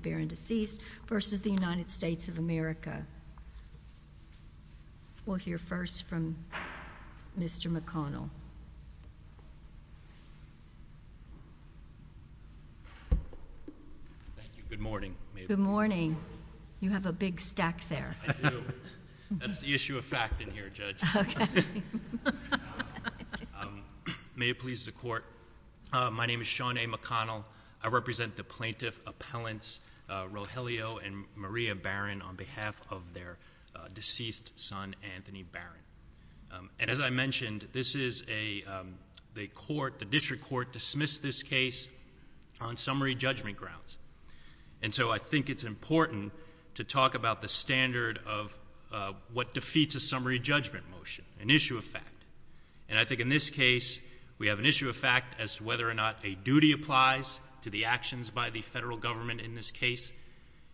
v. United States of America. We'll hear first from Mr. McConnell. Thank you. Good morning. Good morning. You have a big stack there. I do. That's the issue of fact in here, Judge. Okay. May it please the Court. My name is Sean A. McConnell. I represent the plaintiff appellants Rogelio and Maria Barron on behalf of their deceased son, Anthony Barron. And as I mentioned, this is a court, the district court dismissed this case on summary judgment grounds. And so I think it's important to talk about the standard of what defeats a summary judgment motion, an issue of fact. And I think in this case, we have an issue of fact as to whether or not a duty applies to the actions by the federal government in this case,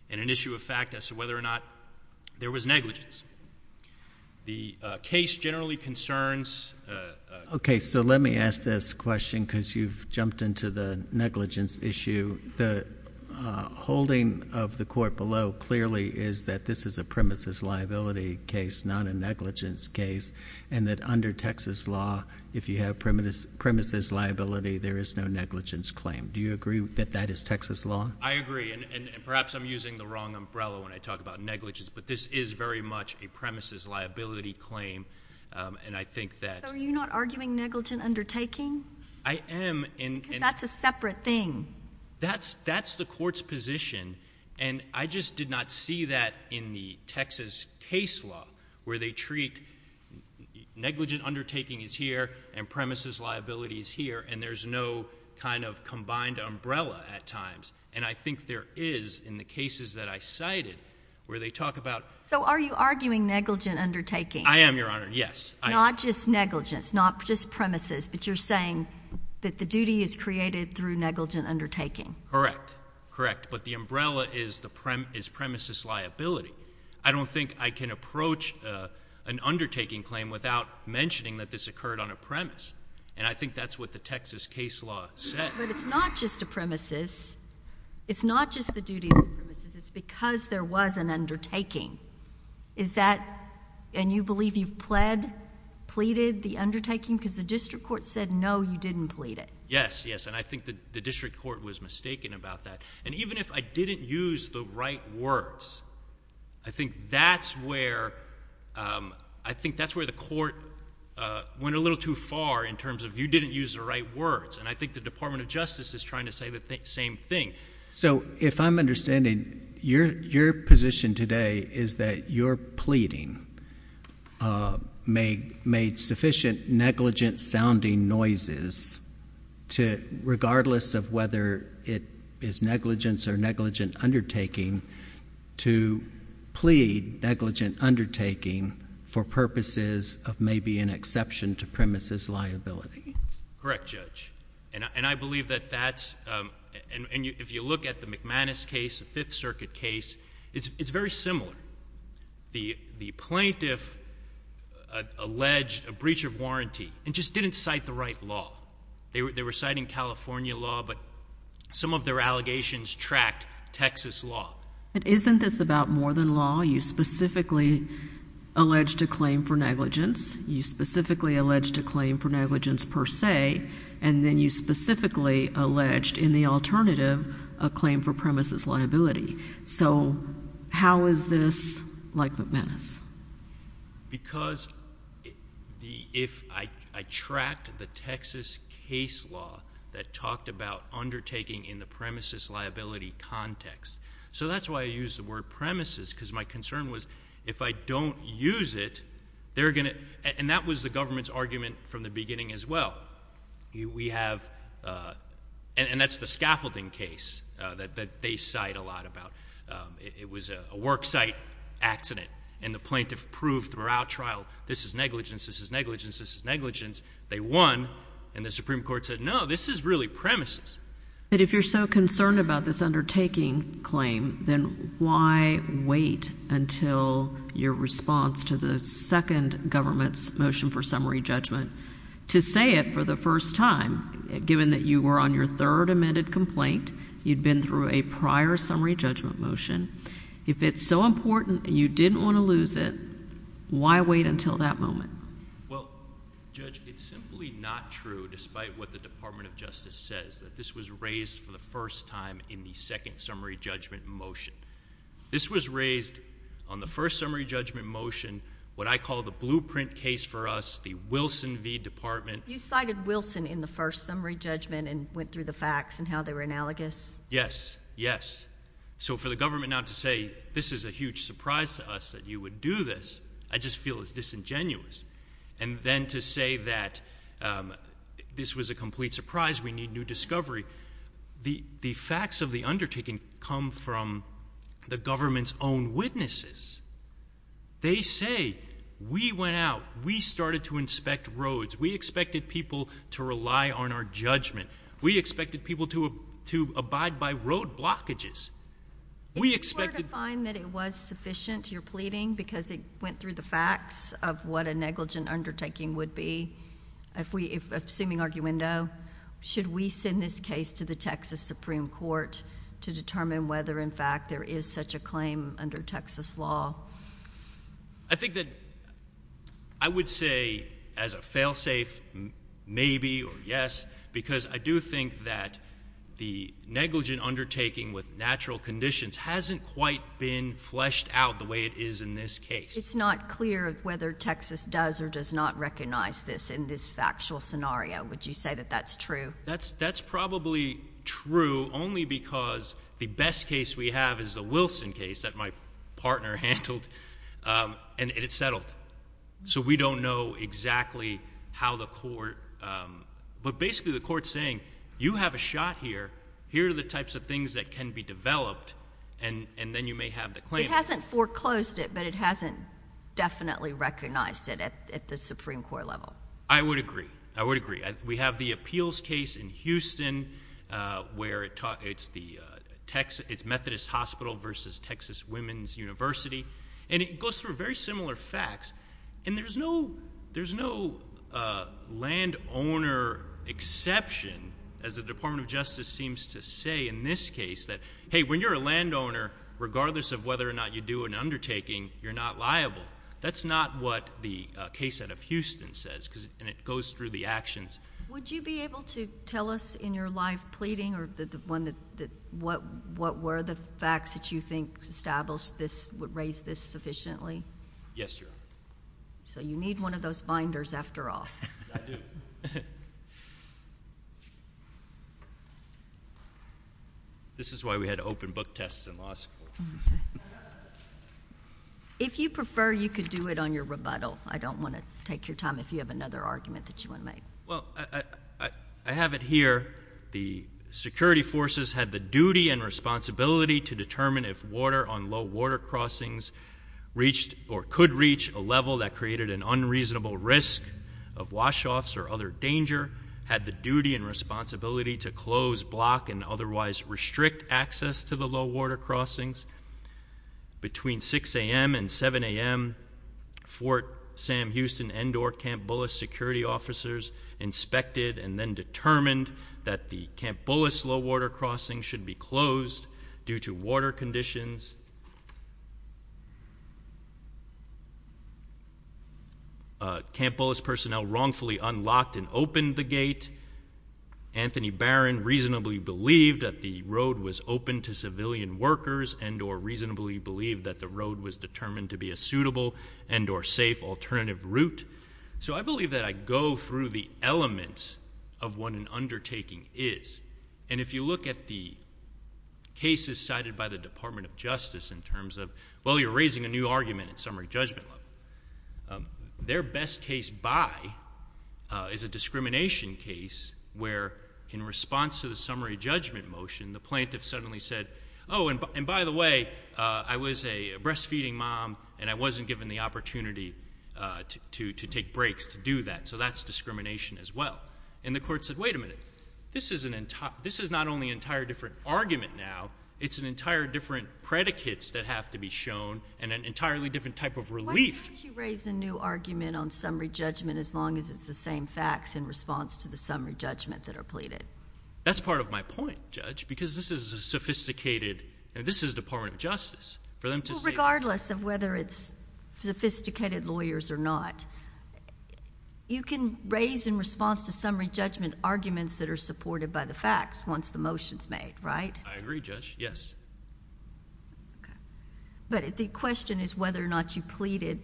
and an issue of fact as to whether or not there was negligence. The case generally concerns— Okay, so let me ask this question because you've jumped into the negligence issue. The holding of the court below clearly is that this is a premises liability case, not a negligence case, and that under Texas law, if you have premises liability, there is no negligence claim. Do you agree that that is Texas law? I agree, and perhaps I'm using the wrong umbrella when I talk about negligence, but this is very much a premises liability claim, and I think that— So are you not arguing negligent undertaking? I am, and— Because that's a separate thing. That's the court's position, and I just did not see that in the Texas case law where they treat negligent undertaking is here and premises liability is here, and there's no kind of combined umbrella at times. And I think there is in the cases that I cited where they talk about— So are you arguing negligent undertaking? I am, Your Honor, yes. Not just negligence, not just premises, but you're saying that the duty is created through negligent undertaking? Correct, correct, but the umbrella is premises liability. I don't think I can approach an undertaking claim without mentioning that this occurred on a premise, and I think that's what the Texas case law says. But it's not just a premises. It's not just the duty of the premises. It's because there was an undertaking. Is that—and you believe you've pled, pleaded the undertaking? Because the district court said no, you didn't plead it. Yes, yes, and I think the district court was mistaken about that. And even if I didn't use the right words, I think that's where the court went a little too far in terms of you didn't use the right words, and I think the Department of Justice is trying to say the same thing. So if I'm understanding, your position today is that your pleading made sufficient negligent-sounding noises, regardless of whether it is negligence or negligent undertaking, to plead negligent undertaking for purposes of maybe an exception to premises liability. Correct, Judge, and I believe that that's— and if you look at the McManus case, the Fifth Circuit case, it's very similar. The plaintiff alleged a breach of warranty and just didn't cite the right law. They were citing California law, but some of their allegations tracked Texas law. But isn't this about more than law? You specifically alleged a claim for negligence. You specifically alleged a claim for negligence per se, and then you specifically alleged in the alternative a claim for premises liability. So how is this like McManus? Because if I tracked the Texas case law that talked about undertaking in the premises liability context— so that's why I used the word premises, because my concern was if I don't use it, they're going to— and that was the government's argument from the beginning as well. We have—and that's the scaffolding case that they cite a lot about. It was a worksite accident, and the plaintiff proved throughout trial, this is negligence, this is negligence, this is negligence. They won, and the Supreme Court said, no, this is really premises. But if you're so concerned about this undertaking claim, then why wait until your response to the second government's motion for summary judgment to say it for the first time, given that you were on your third amended complaint, you'd been through a prior summary judgment motion. If it's so important and you didn't want to lose it, why wait until that moment? Well, Judge, it's simply not true, despite what the Department of Justice says, that this was raised for the first time in the second summary judgment motion. This was raised on the first summary judgment motion, what I call the blueprint case for us, the Wilson v. Department. You cited Wilson in the first summary judgment and went through the facts and how they were analogous? Yes, yes. So for the government not to say, this is a huge surprise to us that you would do this, I just feel it's disingenuous. And then to say that this was a complete surprise, we need new discovery. The facts of the undertaking come from the government's own witnesses. They say, we went out, we started to inspect roads, we expected people to rely on our judgment. We expected people to abide by road blockages. If you were to find that it was sufficient, you're pleading, because it went through the facts of what a negligent undertaking would be, assuming arguendo, should we send this case to the Texas Supreme Court to determine whether, in fact, there is such a claim under Texas law? I think that I would say, as a fail-safe, maybe or yes, because I do think that the negligent undertaking with natural conditions hasn't quite been fleshed out the way it is in this case. It's not clear whether Texas does or does not recognize this in this factual scenario. Would you say that that's true? That's probably true only because the best case we have is the Wilson case that my partner handled, and it's settled. So we don't know exactly how the court – but basically the court's saying, you have a shot here. Here are the types of things that can be developed, and then you may have the claim. It hasn't foreclosed it, but it hasn't definitely recognized it at the Supreme Court level. I would agree. I would agree. We have the appeals case in Houston where it's Methodist Hospital versus Texas Women's University, and it goes through very similar facts, and there's no landowner exception, as the Department of Justice seems to say in this case that, hey, when you're a landowner, regardless of whether or not you do an undertaking, you're not liable. That's not what the case out of Houston says, and it goes through the actions. Would you be able to tell us in your live pleading what were the facts that you think established this, would raise this sufficiently? Yes, Your Honor. So you need one of those finders after all. I do. This is why we had open book tests in law school. Okay. If you prefer, you could do it on your rebuttal. I don't want to take your time if you have another argument that you want to make. Well, I have it here. The security forces had the duty and responsibility to determine if water on low water crossings reached or could reach a level that created an unreasonable risk of wash offs or other danger, had the duty and responsibility to close, block, and otherwise restrict access to the low water crossings. Between 6 a.m. and 7 a.m., Fort Sam Houston Endor Camp Bullis security officers inspected and then determined that the Camp Bullis low water crossing should be closed due to water conditions. Camp Bullis personnel wrongfully unlocked and opened the gate. Anthony Barron reasonably believed that the road was open to civilian workers and or reasonably believed that the road was determined to be a suitable and or safe alternative route. So I believe that I go through the elements of what an undertaking is. And if you look at the cases cited by the Department of Justice in terms of, well, you're raising a new argument at summary judgment level. Their best case by is a discrimination case where in response to the summary judgment motion, the plaintiff suddenly said, oh, and by the way, I was a breastfeeding mom and I wasn't given the opportunity to take breaks to do that. So that's discrimination as well. And the court said, wait a minute. This is not only an entire different argument now. It's an entire different predicates that have to be shown and an entirely different type of relief. Why don't you raise a new argument on summary judgment as long as it's the same facts in response to the summary judgment that are pleaded? That's part of my point, Judge, because this is a sophisticated. This is Department of Justice. Regardless of whether it's sophisticated lawyers or not, you can raise in response to summary judgment arguments that are supported by the facts once the motion is made, right? I agree, Judge, yes. But the question is whether or not you pleaded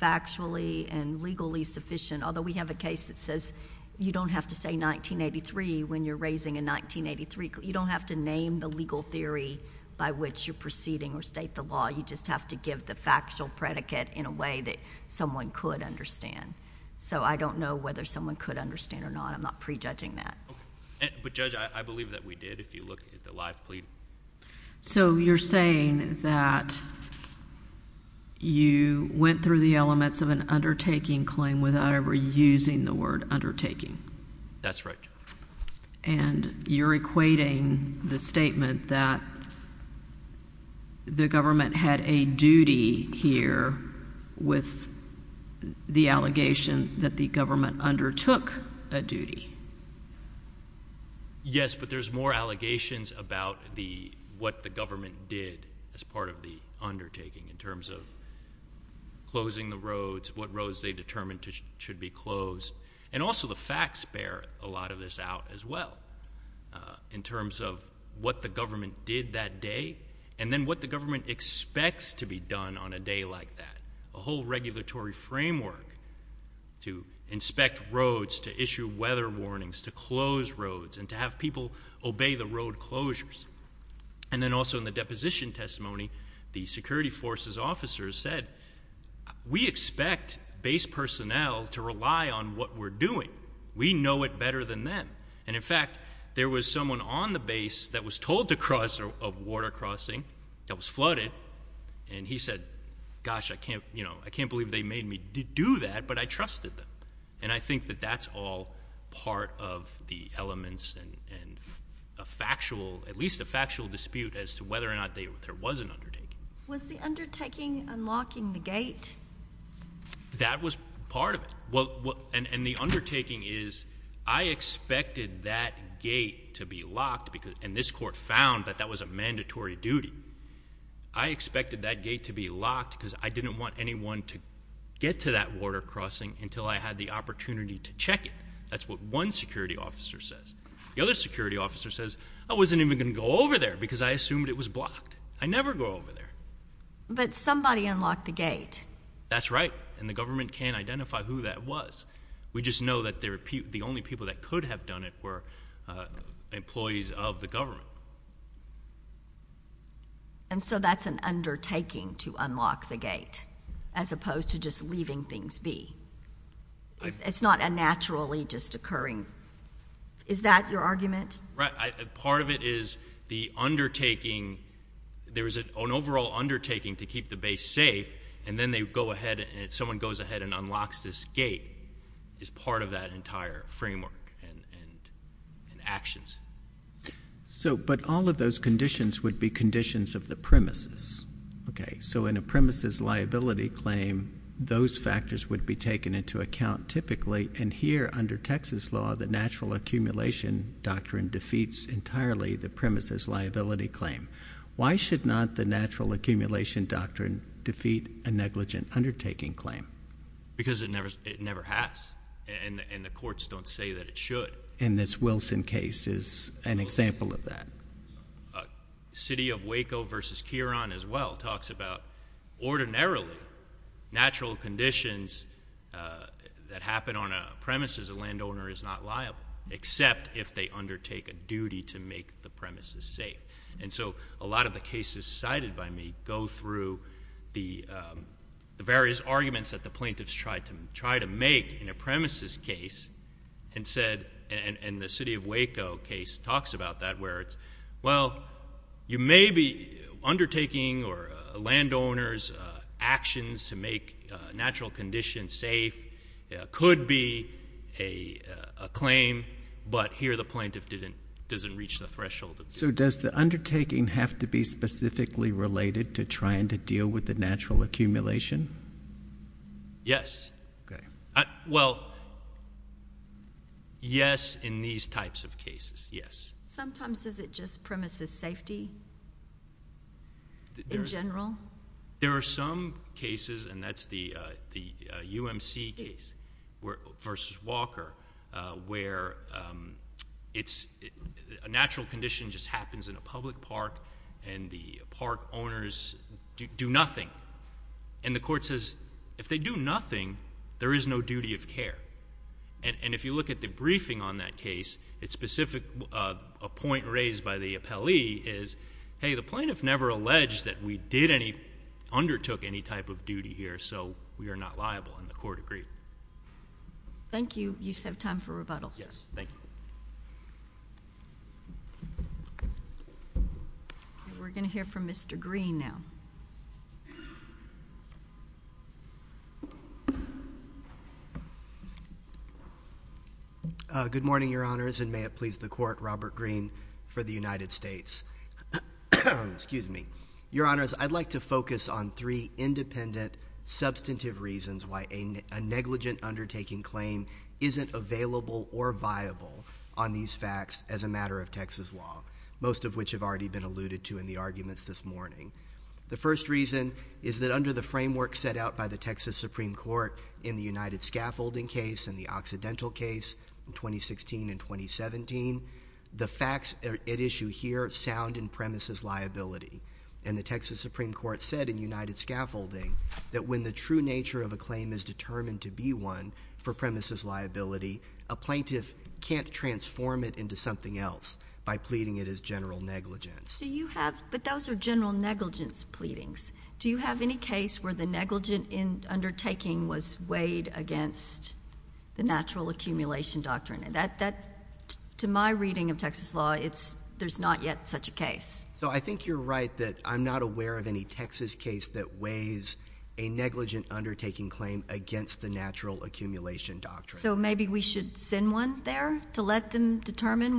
factually and legally sufficient, although we have a case that says you don't have to say 1983 when you're raising a 1983. You don't have to name the legal theory by which you're proceeding or state the law. You just have to give the factual predicate in a way that someone could understand. So I don't know whether someone could understand or not. I'm not prejudging that. But, Judge, I believe that we did. If you look at the live plead. So you're saying that you went through the elements of an undertaking claim without ever using the word undertaking. That's right, Judge. And you're equating the statement that the government had a duty here with the allegation that the government undertook a duty. Yes, but there's more allegations about what the government did as part of the undertaking in terms of closing the roads, what roads they determined should be closed. And also the facts bear a lot of this out as well in terms of what the government did that day and then what the government expects to be done on a day like that. A whole regulatory framework to inspect roads, to issue weather warnings, to close roads, and to have people obey the road closures. And then also in the deposition testimony, the security forces officers said, we expect base personnel to rely on what we're doing. We know it better than them. And, in fact, there was someone on the base that was told to cross a water crossing that was flooded, and he said, gosh, I can't believe they made me do that, but I trusted them. And I think that that's all part of the elements and at least a factual dispute as to whether or not there was an undertaking. Was the undertaking unlocking the gate? That was part of it. And the undertaking is I expected that gate to be locked, and this court found that that was a mandatory duty. I expected that gate to be locked because I didn't want anyone to get to that water crossing until I had the opportunity to check it. That's what one security officer says. The other security officer says, I wasn't even going to go over there because I assumed it was blocked. I never go over there. But somebody unlocked the gate. That's right, and the government can't identify who that was. We just know that the only people that could have done it were employees of the government. And so that's an undertaking to unlock the gate as opposed to just leaving things be. It's not a naturally just occurring. Is that your argument? Right. Part of it is the undertaking. There was an overall undertaking to keep the base safe, and then they go ahead and someone goes ahead and unlocks this gate is part of that entire framework and actions. But all of those conditions would be conditions of the premises. So in a premises liability claim, those factors would be taken into account typically, and here under Texas law, the natural accumulation doctrine defeats entirely the premises liability claim. Why should not the natural accumulation doctrine defeat a negligent undertaking claim? Because it never has, and the courts don't say that it should. And this Wilson case is an example of that. City of Waco v. Kieron as well talks about ordinarily natural conditions that happen on a premises a landowner is not liable except if they undertake a duty to make the premises safe. And so a lot of the cases cited by me go through the various arguments that the plaintiffs tried to make in a premises case and the City of Waco case talks about that where it's, well, you may be undertaking or a landowner's actions to make natural conditions safe could be a claim, but here the plaintiff doesn't reach the threshold. So does the undertaking have to be specifically related to trying to deal with the natural accumulation? Yes. Okay. Well, yes in these types of cases, yes. Sometimes is it just premises safety in general? There are some cases, and that's the UMC case v. Walker, where a natural condition just happens in a public park and the park owners do nothing. And the court says if they do nothing, there is no duty of care. And if you look at the briefing on that case, it's specific. A point raised by the appellee is, hey, the plaintiff never alleged that we undertook any type of duty here, so we are not liable, and the court agreed. Thank you. You just have time for rebuttal, sir. Yes, thank you. We're going to hear from Mr. Green now. Good morning, Your Honors, and may it please the Court, Robert Green for the United States. Your Honors, I'd like to focus on three independent, substantive reasons why a negligent undertaking claim isn't available or viable on these facts as a matter of Texas law, most of which have already been alluded to in the arguments this morning. The first reason is that under the framework set out by the Texas Supreme Court in the United Scaffolding case and the Occidental case in 2016 and 2017, the facts at issue here sound in premises liability. And the Texas Supreme Court said in United Scaffolding that when the true nature of a claim is determined to be one for premises liability, a plaintiff can't transform it into something else by pleading it as general negligence. But those are general negligence pleadings. Do you have any case where the negligent undertaking was weighed against the natural accumulation doctrine? To my reading of Texas law, there's not yet such a case. So I think you're right that I'm not aware of any Texas case that weighs a negligent undertaking claim against the natural accumulation doctrine. So maybe we should send one there to let them determine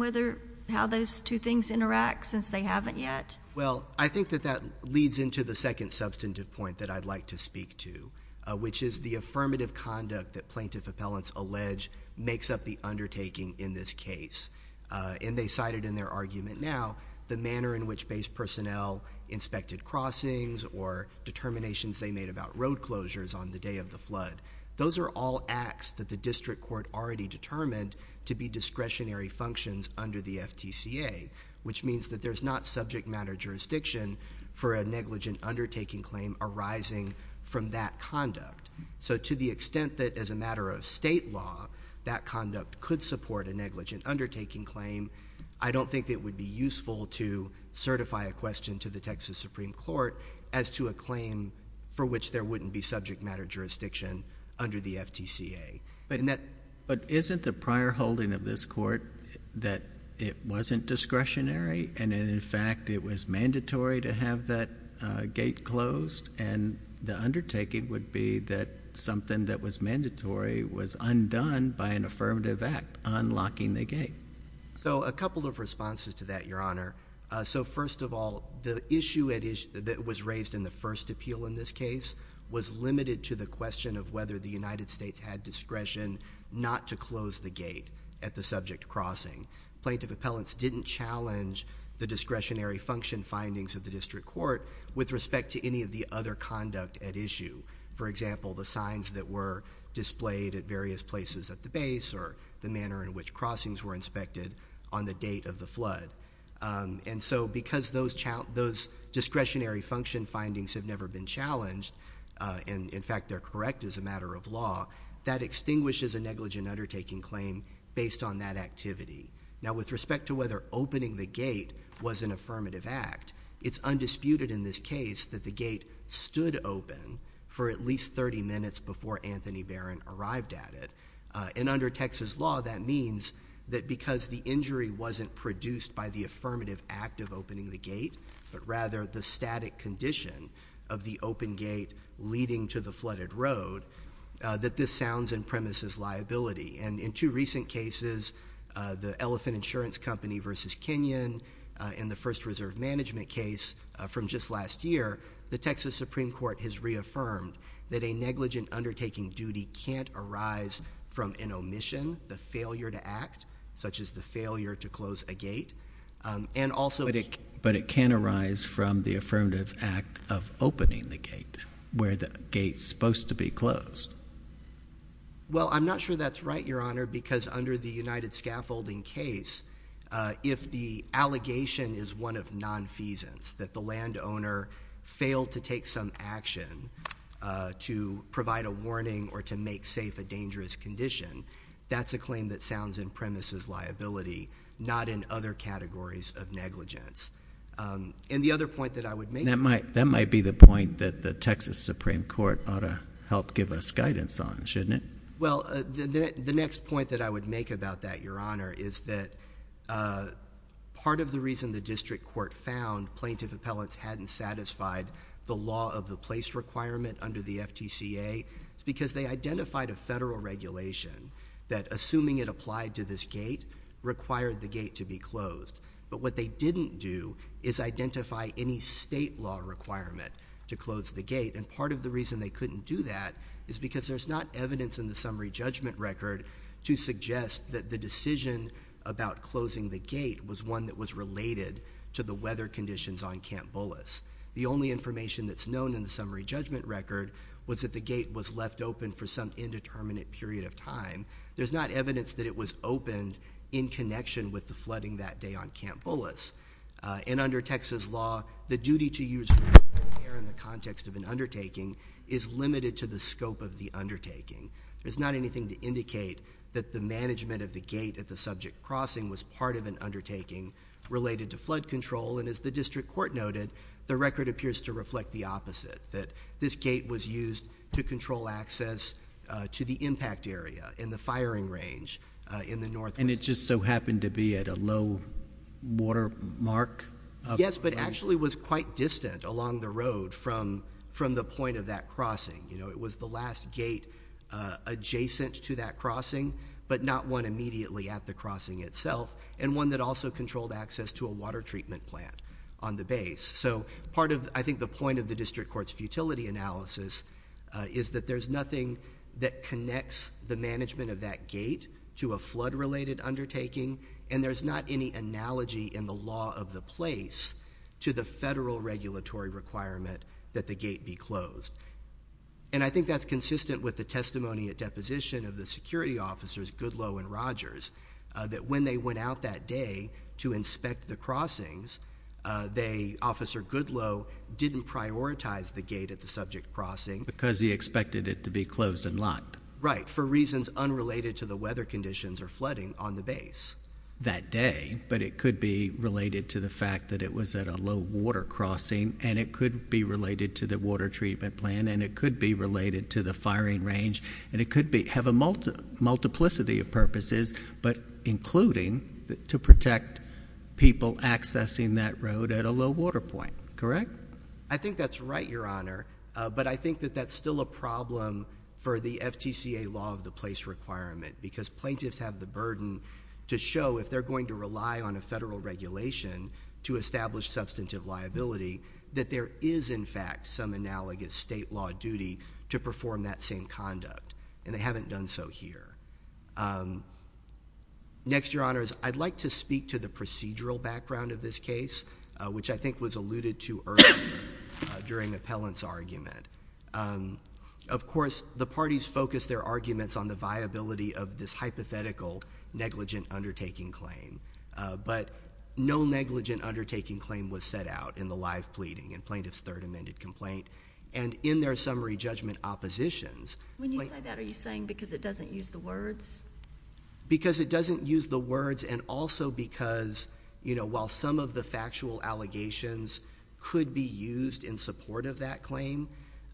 how those two things interact since they haven't yet? Well, I think that that leads into the second substantive point that I'd like to speak to, which is the affirmative conduct that plaintiff appellants allege makes up the undertaking in this case. And they cited in their argument now the manner in which base personnel inspected crossings or determinations they made about road closures on the day of the flood. Those are all acts that the district court already determined to be discretionary functions under the FTCA, which means that there's not subject matter jurisdiction for a negligent undertaking claim arising from that conduct. So to the extent that as a matter of state law, that conduct could support a negligent undertaking claim, I don't think it would be useful to certify a question to the Texas Supreme Court as to a claim for which there wouldn't be subject matter jurisdiction under the FTCA. But isn't the prior holding of this court that it wasn't discretionary and in fact it was mandatory to have that gate closed? And the undertaking would be that something that was mandatory was undone by an affirmative act unlocking the gate. So a couple of responses to that, Your Honor. So first of all, the issue that was raised in the first appeal in this case was limited to the question of whether the United States had discretion not to close the gate at the subject crossing. Plaintiff appellants didn't challenge the discretionary function findings of the district court with respect to any of the other conduct at issue. For example, the signs that were displayed at various places at the base or the manner in which crossings were inspected on the date of the flood. And so because those discretionary function findings have never been challenged, and in fact they're correct as a matter of law, that extinguishes a negligent undertaking claim based on that activity. Now with respect to whether opening the gate was an affirmative act, it's undisputed in this case that the gate stood open for at least 30 minutes before Anthony Barron arrived at it. And under Texas law, that means that because the injury wasn't produced by the affirmative act of opening the gate, but rather the static condition of the open gate leading to the flooded road, that this sounds in premises liability. And in two recent cases, the Elephant Insurance Company versus Kenyon, in the first reserve management case from just last year, the Texas Supreme Court has reaffirmed that a negligent undertaking duty can't arise from an omission, the failure to act, such as the failure to close a gate. But it can arise from the affirmative act of opening the gate, where the gate's supposed to be closed. Well, I'm not sure that's right, Your Honor, because under the United Scaffolding case, if the allegation is one of nonfeasance, that the landowner failed to take some action to provide a warning or to make safe a dangerous condition, that's a claim that sounds in premises liability, not in other categories of negligence. And the other point that I would make... That might be the point that the Texas Supreme Court ought to help give us guidance on, shouldn't it? Well, the next point that I would make about that, Your Honor, is that part of the reason the district court found plaintiff appellants hadn't satisfied the law of the place requirement under the FTCA is because they identified a federal regulation that, assuming it applied to this gate, required the gate to be closed. But what they didn't do is identify any state law requirement to close the gate. And part of the reason they couldn't do that is because there's not evidence in the summary judgment record to suggest that the decision about closing the gate was one that was related to the weather conditions on Camp Bullis. The only information that's known in the summary judgment record was that the gate was left open for some indeterminate period of time. There's not evidence that it was opened in connection with the flooding that day on Camp Bullis. And under Texas law, the duty to use water in the context of an undertaking is limited to the scope of the undertaking. There's not anything to indicate that the management of the gate at the subject crossing was part of an undertaking related to flood control. And as the district court noted, the record appears to reflect the opposite, that this gate was used to control access to the impact area in the firing range in the northwest. And it just so happened to be at a low water mark? Yes, but actually was quite distant along the road from the point of that crossing. It was the last gate adjacent to that crossing, but not one immediately at the crossing itself, and one that also controlled access to a water treatment plant on the base. So part of, I think, the point of the district court's futility analysis is that there's nothing that connects the management of that gate to a flood-related undertaking, and there's not any analogy in the law of the place to the federal regulatory requirement that the gate be closed. And I think that's consistent with the testimony at deposition of the security officers, Goodloe and Rogers, that when they went out that day to inspect the crossings, Officer Goodloe didn't prioritize the gate at the subject crossing. Because he expected it to be closed and locked? Right, for reasons unrelated to the weather conditions or flooding on the base. That day, but it could be related to the fact that it was at a low water crossing, and it could be related to the water treatment plant, and it could be related to the firing range, and it could have a multiplicity of purposes, but including to protect people accessing that road at a low water point. Correct? I think that's right, Your Honor, but I think that that's still a problem for the FTCA law of the place requirement, because plaintiffs have the burden to show if they're going to rely on a federal regulation to establish substantive liability, that there is, in fact, some analogous state law duty to perform that same conduct, and they haven't done so here. Next, Your Honors, I'd like to speak to the procedural background of this case, which I think was alluded to earlier during Appellant's argument. Of course, the parties focused their arguments on the viability of this hypothetical negligent undertaking claim, but no negligent undertaking claim was set out in the live pleading in plaintiff's third amended complaint, and in their summary judgment oppositions. When you say that, are you saying because it doesn't use the words? Because it doesn't use the words and also because, you know, while some of the factual allegations could be used in support of that claim,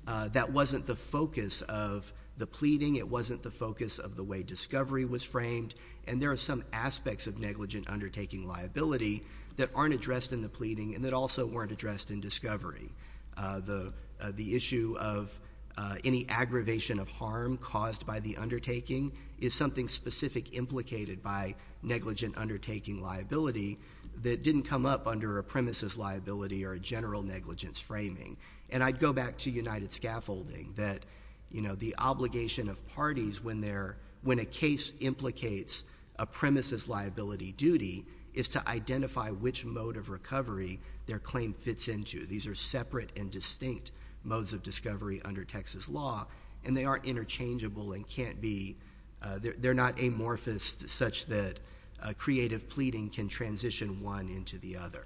that wasn't the focus of the pleading, it wasn't the focus of the way discovery was framed, and there are some aspects of negligent undertaking liability that aren't addressed in the pleading and that also weren't addressed in discovery. The issue of any aggravation of harm caused by the undertaking is something specific implicated by negligent undertaking liability that didn't come up under a premises liability or a general negligence framing. And I'd go back to united scaffolding, that, you know, the obligation of parties when a case implicates a premises liability duty is to identify which mode of recovery their claim fits into. These are separate and distinct modes of discovery under Texas law, and they aren't interchangeable and can't be— they're not amorphous such that creative pleading can transition one into the other.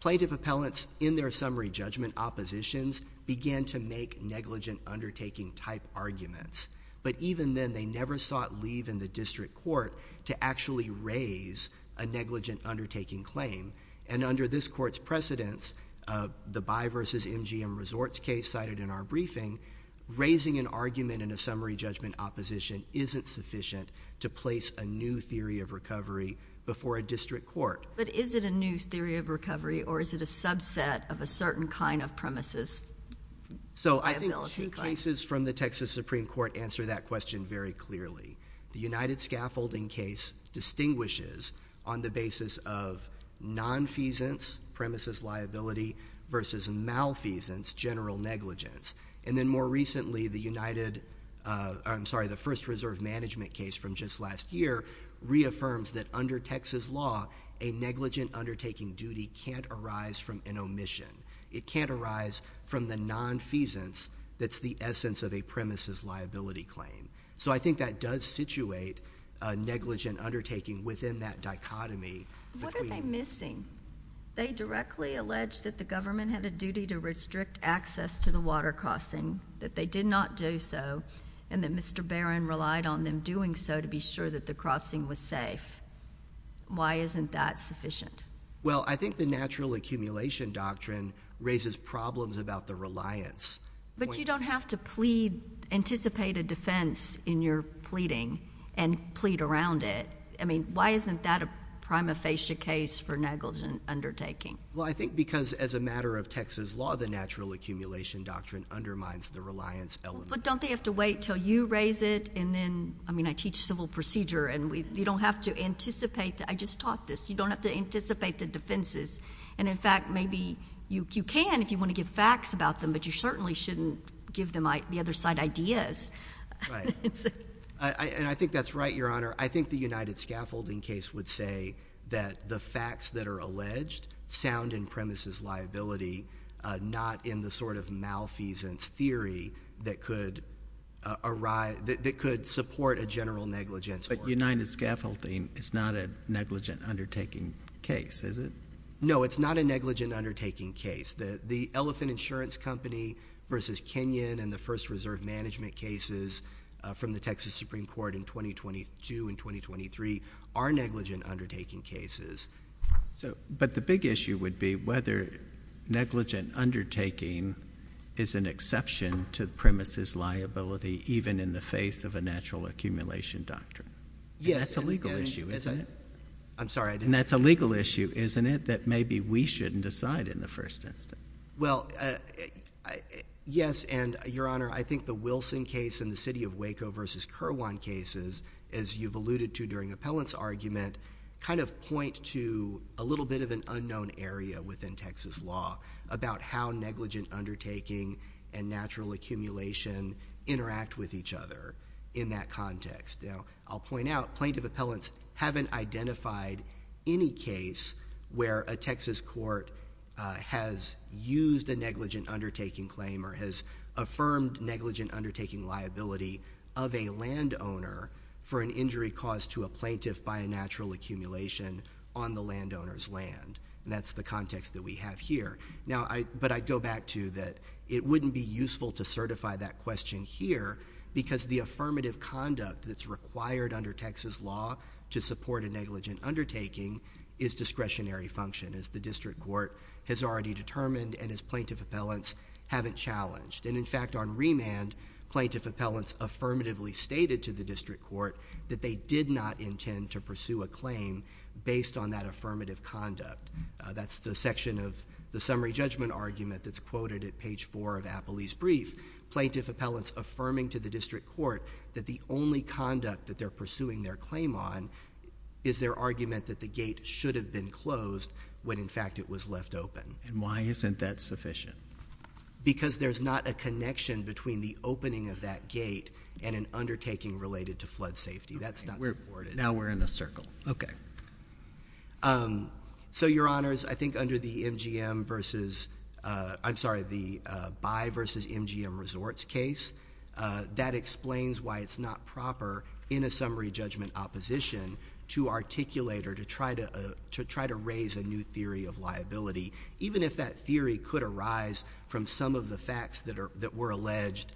Plaintiff appellants in their summary judgment oppositions began to make negligent undertaking type arguments, but even then they never sought leave in the district court to actually raise a negligent undertaking claim. And under this court's precedence, the Bayh versus MGM Resorts case cited in our briefing, raising an argument in a summary judgment opposition isn't sufficient to place a new theory of recovery before a district court. But is it a new theory of recovery, or is it a subset of a certain kind of premises liability claim? So I think two cases from the Texas Supreme Court answer that question very clearly. The united scaffolding case distinguishes on the basis of nonfeasance, premises liability, versus malfeasance, general negligence. And then more recently, the united—I'm sorry, the first reserve management case from just last year reaffirms that under Texas law, a negligent undertaking duty can't arise from an omission. It can't arise from the nonfeasance that's the essence of a premises liability claim. So I think that does situate a negligent undertaking within that dichotomy. What are they missing? They directly allege that the government had a duty to restrict access to the water crossing, that they did not do so, and that Mr. Barron relied on them doing so to be sure that the crossing was safe. Why isn't that sufficient? Well, I think the natural accumulation doctrine raises problems about the reliance. But you don't have to plead—anticipate a defense in your pleading and plead around it. I mean, why isn't that a prima facie case for negligent undertaking? Well, I think because as a matter of Texas law, the natural accumulation doctrine undermines the reliance element. But don't they have to wait until you raise it and then—I mean, I teach civil procedure, and you don't have to anticipate that. I just taught this. You don't have to anticipate the defenses. And, in fact, maybe you can if you want to give facts about them, but you certainly shouldn't give them the other side ideas. Right. And I think that's right, Your Honor. I think the United Scaffolding case would say that the facts that are alleged sound in premises liability, not in the sort of malfeasance theory that could support a general negligence order. But United Scaffolding is not a negligent undertaking case, is it? No, it's not a negligent undertaking case. The elephant insurance company versus Kenyon and the first reserve management cases from the Texas Supreme Court in 2022 and 2023 are negligent undertaking cases. But the big issue would be whether negligent undertaking is an exception to the premises liability, even in the face of a natural accumulation doctrine. Yes. And that's a legal issue, isn't it? I'm sorry, I didn't— that maybe we shouldn't decide in the first instance. Well, yes, and, Your Honor, I think the Wilson case and the city of Waco versus Kirwan cases, as you've alluded to during Appellant's argument, kind of point to a little bit of an unknown area within Texas law about how negligent undertaking and natural accumulation interact with each other in that context. Now, I'll point out plaintiff appellants haven't identified any case where a Texas court has used a negligent undertaking claim or has affirmed negligent undertaking liability of a landowner for an injury caused to a plaintiff by a natural accumulation on the landowner's land. And that's the context that we have here. But I go back to that it wouldn't be useful to certify that question here because the affirmative conduct that's required under Texas law to support a negligent undertaking is discretionary function, as the district court has already determined and as plaintiff appellants haven't challenged. And, in fact, on remand, plaintiff appellants affirmatively stated to the district court that they did not intend to pursue a claim based on that affirmative conduct. That's the section of the summary judgment argument that's quoted at page 4 of Appley's brief. Plaintiff appellants affirming to the district court that the only conduct that they're pursuing their claim on is their argument that the gate should have been closed when, in fact, it was left open. And why isn't that sufficient? Because there's not a connection between the opening of that gate and an undertaking related to flood safety. That's not supported. Now we're in a circle. Okay. So, Your Honors, I think under the MGM versus, I'm sorry, the Bayh versus MGM resorts case, that explains why it's not proper in a summary judgment opposition to articulate or to try to raise a new theory of liability, even if that theory could arise from some of the facts that were alleged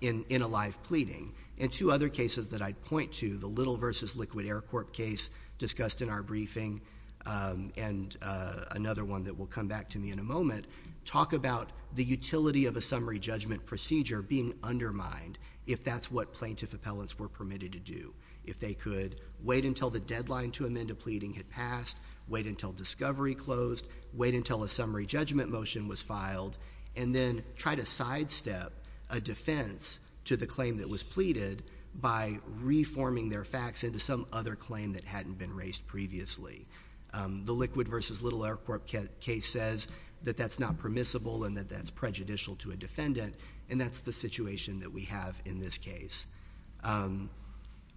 in a live pleading. And two other cases that I'd point to, the Little versus Liquid Air Corp case discussed in our briefing and another one that will come back to me in a moment, talk about the utility of a summary judgment procedure being undermined if that's what plaintiff appellants were permitted to do. If they could wait until the deadline to amend a pleading had passed, wait until discovery closed, wait until a summary judgment motion was filed, and then try to sidestep a defense to the claim that was pleaded by reforming their facts into some other claim that hadn't been raised previously. The Liquid versus Little Air Corp case says that that's not permissible and that that's prejudicial to a defendant, and that's the situation that we have in this case.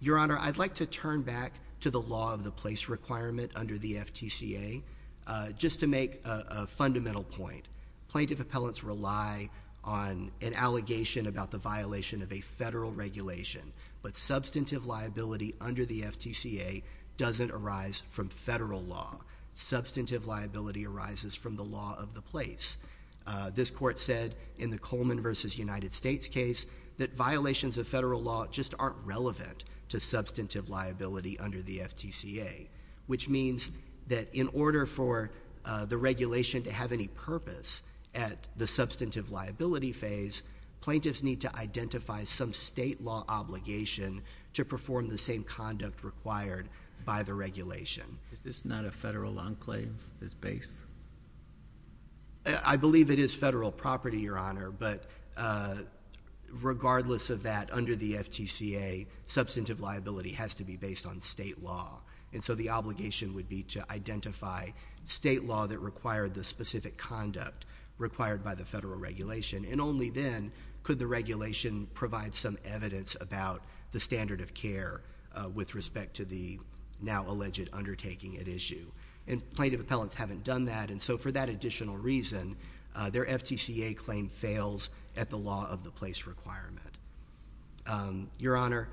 Your Honor, I'd like to turn back to the law of the place requirement under the FTCA just to make a fundamental point. Plaintiff appellants rely on an allegation about the violation of a federal regulation, but substantive liability under the FTCA doesn't arise from federal law. Substantive liability arises from the law of the place. This court said in the Coleman versus United States case that violations of federal law just aren't relevant to substantive liability under the FTCA, which means that in order for the regulation to have any purpose at the substantive liability phase, plaintiffs need to identify some state law obligation to perform the same conduct required by the regulation. Is this not a federal enclave, this base? I believe it is federal property, Your Honor, but regardless of that, under the FTCA, substantive liability has to be based on state law. And so the obligation would be to identify state law that required the specific conduct required by the federal regulation. And only then could the regulation provide some evidence about the standard of care with respect to the now-alleged undertaking at issue. And plaintiff appellants haven't done that, and so for that additional reason, their FTCA claim fails at the law of the place requirement. Your Honor,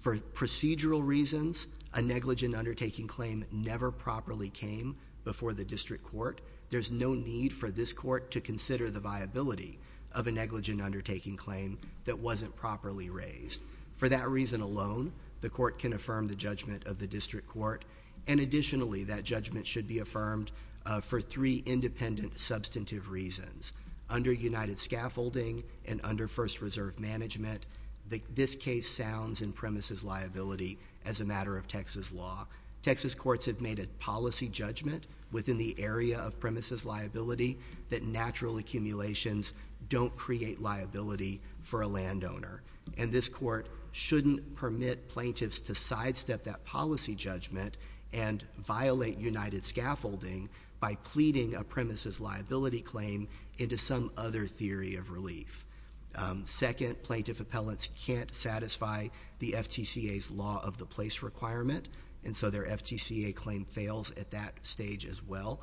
for procedural reasons, a negligent undertaking claim never properly came before the district court. There's no need for this court to consider the viability of a negligent undertaking claim that wasn't properly raised. For that reason alone, the court can affirm the judgment of the district court, and additionally, that judgment should be affirmed for three independent substantive reasons. Under United Scaffolding and under First Reserve Management, this case sounds in premises liability as a matter of Texas law. Texas courts have made a policy judgment within the area of premises liability that natural accumulations don't create liability for a landowner. And this court shouldn't permit plaintiffs to sidestep that policy judgment and violate United Scaffolding by pleading a premises liability claim into some other theory of relief. Second, plaintiff appellants can't satisfy the FTCA's law of the place requirement, and so their FTCA claim fails at that stage as well.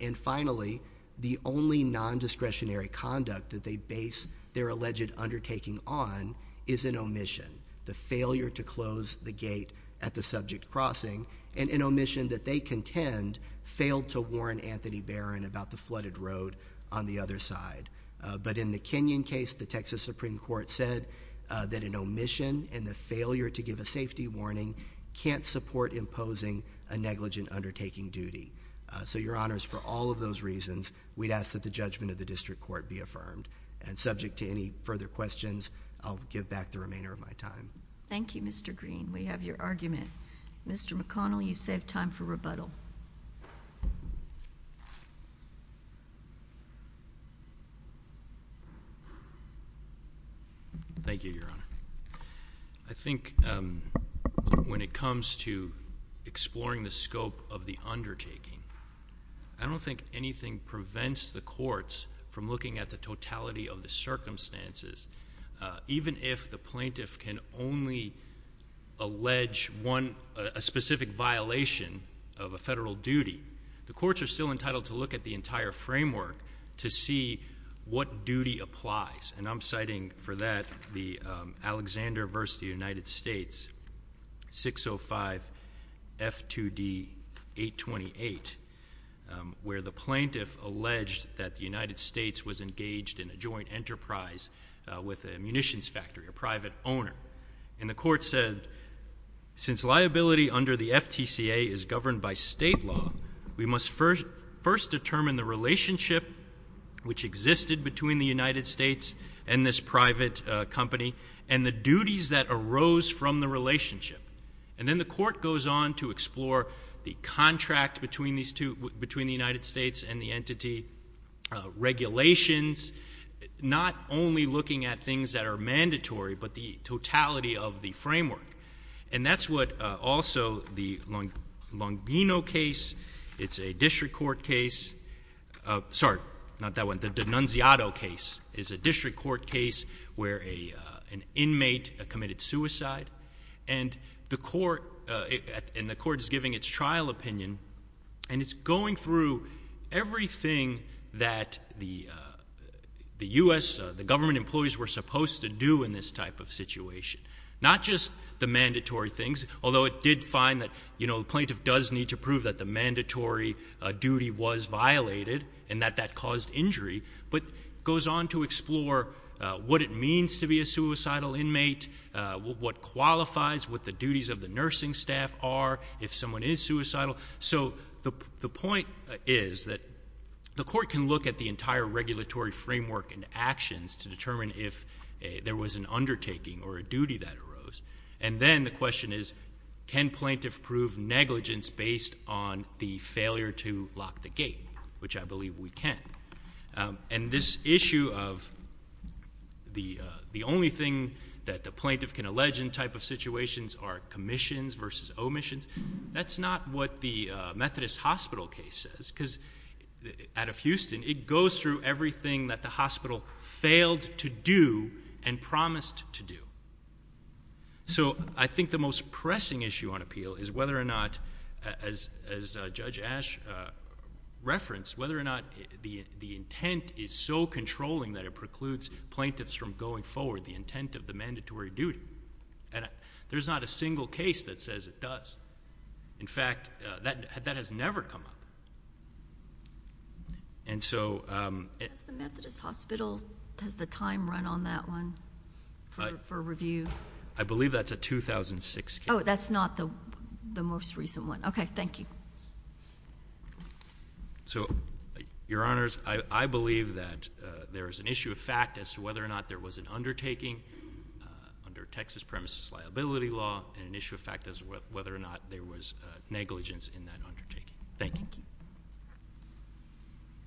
And finally, the only nondiscretionary conduct that they base their alleged undertaking on is an omission. The failure to close the gate at the subject crossing, and an omission that they contend failed to warn Anthony Barron about the flooded road on the other side. But in the Kenyon case, the Texas Supreme Court said that an omission and the failure to give a safety warning can't support imposing a negligent undertaking duty. So, Your Honors, for all of those reasons, we'd ask that the judgment of the district court be affirmed. And subject to any further questions, I'll give back the remainder of my time. Thank you, Mr. Green. We have your argument. Mr. McConnell, you save time for rebuttal. Thank you, Your Honor. I think when it comes to exploring the scope of the undertaking, I don't think anything prevents the courts from looking at the totality of the circumstances. Even if the plaintiff can only allege a specific violation of a federal duty, the courts are still entitled to look at the entire framework to see what duty applies. And I'm citing for that the Alexander v. United States, 605 F2D 828, where the plaintiff alleged that the United States was engaged in a joint enterprise with a munitions factory, a private owner. And the court said, since liability under the FTCA is governed by state law, we must first determine the relationship which existed between the United States and this private company and the duties that arose from the relationship. And then the court goes on to explore the contract between the United States and the entity, regulations, not only looking at things that are mandatory, but the totality of the framework. And that's what also the Longino case, it's a district court case. Sorry, not that one. The Denunziato case is a district court case where an inmate committed suicide. And the court is giving its trial opinion, and it's going through everything that the U.S., the government employees, were supposed to do in this type of situation. Not just the mandatory things, although it did find that the plaintiff does need to prove that the mandatory duty was violated and that that caused injury, but goes on to explore what it means to be a suicidal inmate, what qualifies, what the duties of the nursing staff are if someone is suicidal. So the point is that the court can look at the entire regulatory framework and actions to determine if there was an undertaking or a duty that arose. And then the question is, can plaintiff prove negligence based on the failure to lock the gate, which I believe we can. And this issue of the only thing that the plaintiff can allege in type of situations are commissions versus omissions, that's not what the Methodist Hospital case says, because out of Houston, it goes through everything that the hospital failed to do and promised to do. So I think the most pressing issue on appeal is whether or not, as Judge Ash referenced, whether or not the intent is so controlling that it precludes plaintiffs from going forward the intent of the mandatory duty. And there's not a single case that says it does. In fact, that has never come up. And so- Has the Methodist Hospital, does the time run on that one for review? I believe that's a 2006 case. Oh, that's not the most recent one. Okay, thank you. So, Your Honors, I believe that there is an issue of fact as to whether or not there was an undertaking under Texas premises liability law, and an issue of fact as to whether or not there was negligence in that undertaking. Thank you.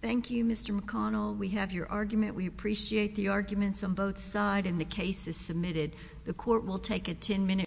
Thank you, Mr. McConnell. We have your argument. We appreciate the arguments on both sides, and the case is submitted. The court will take a 10-minute recess.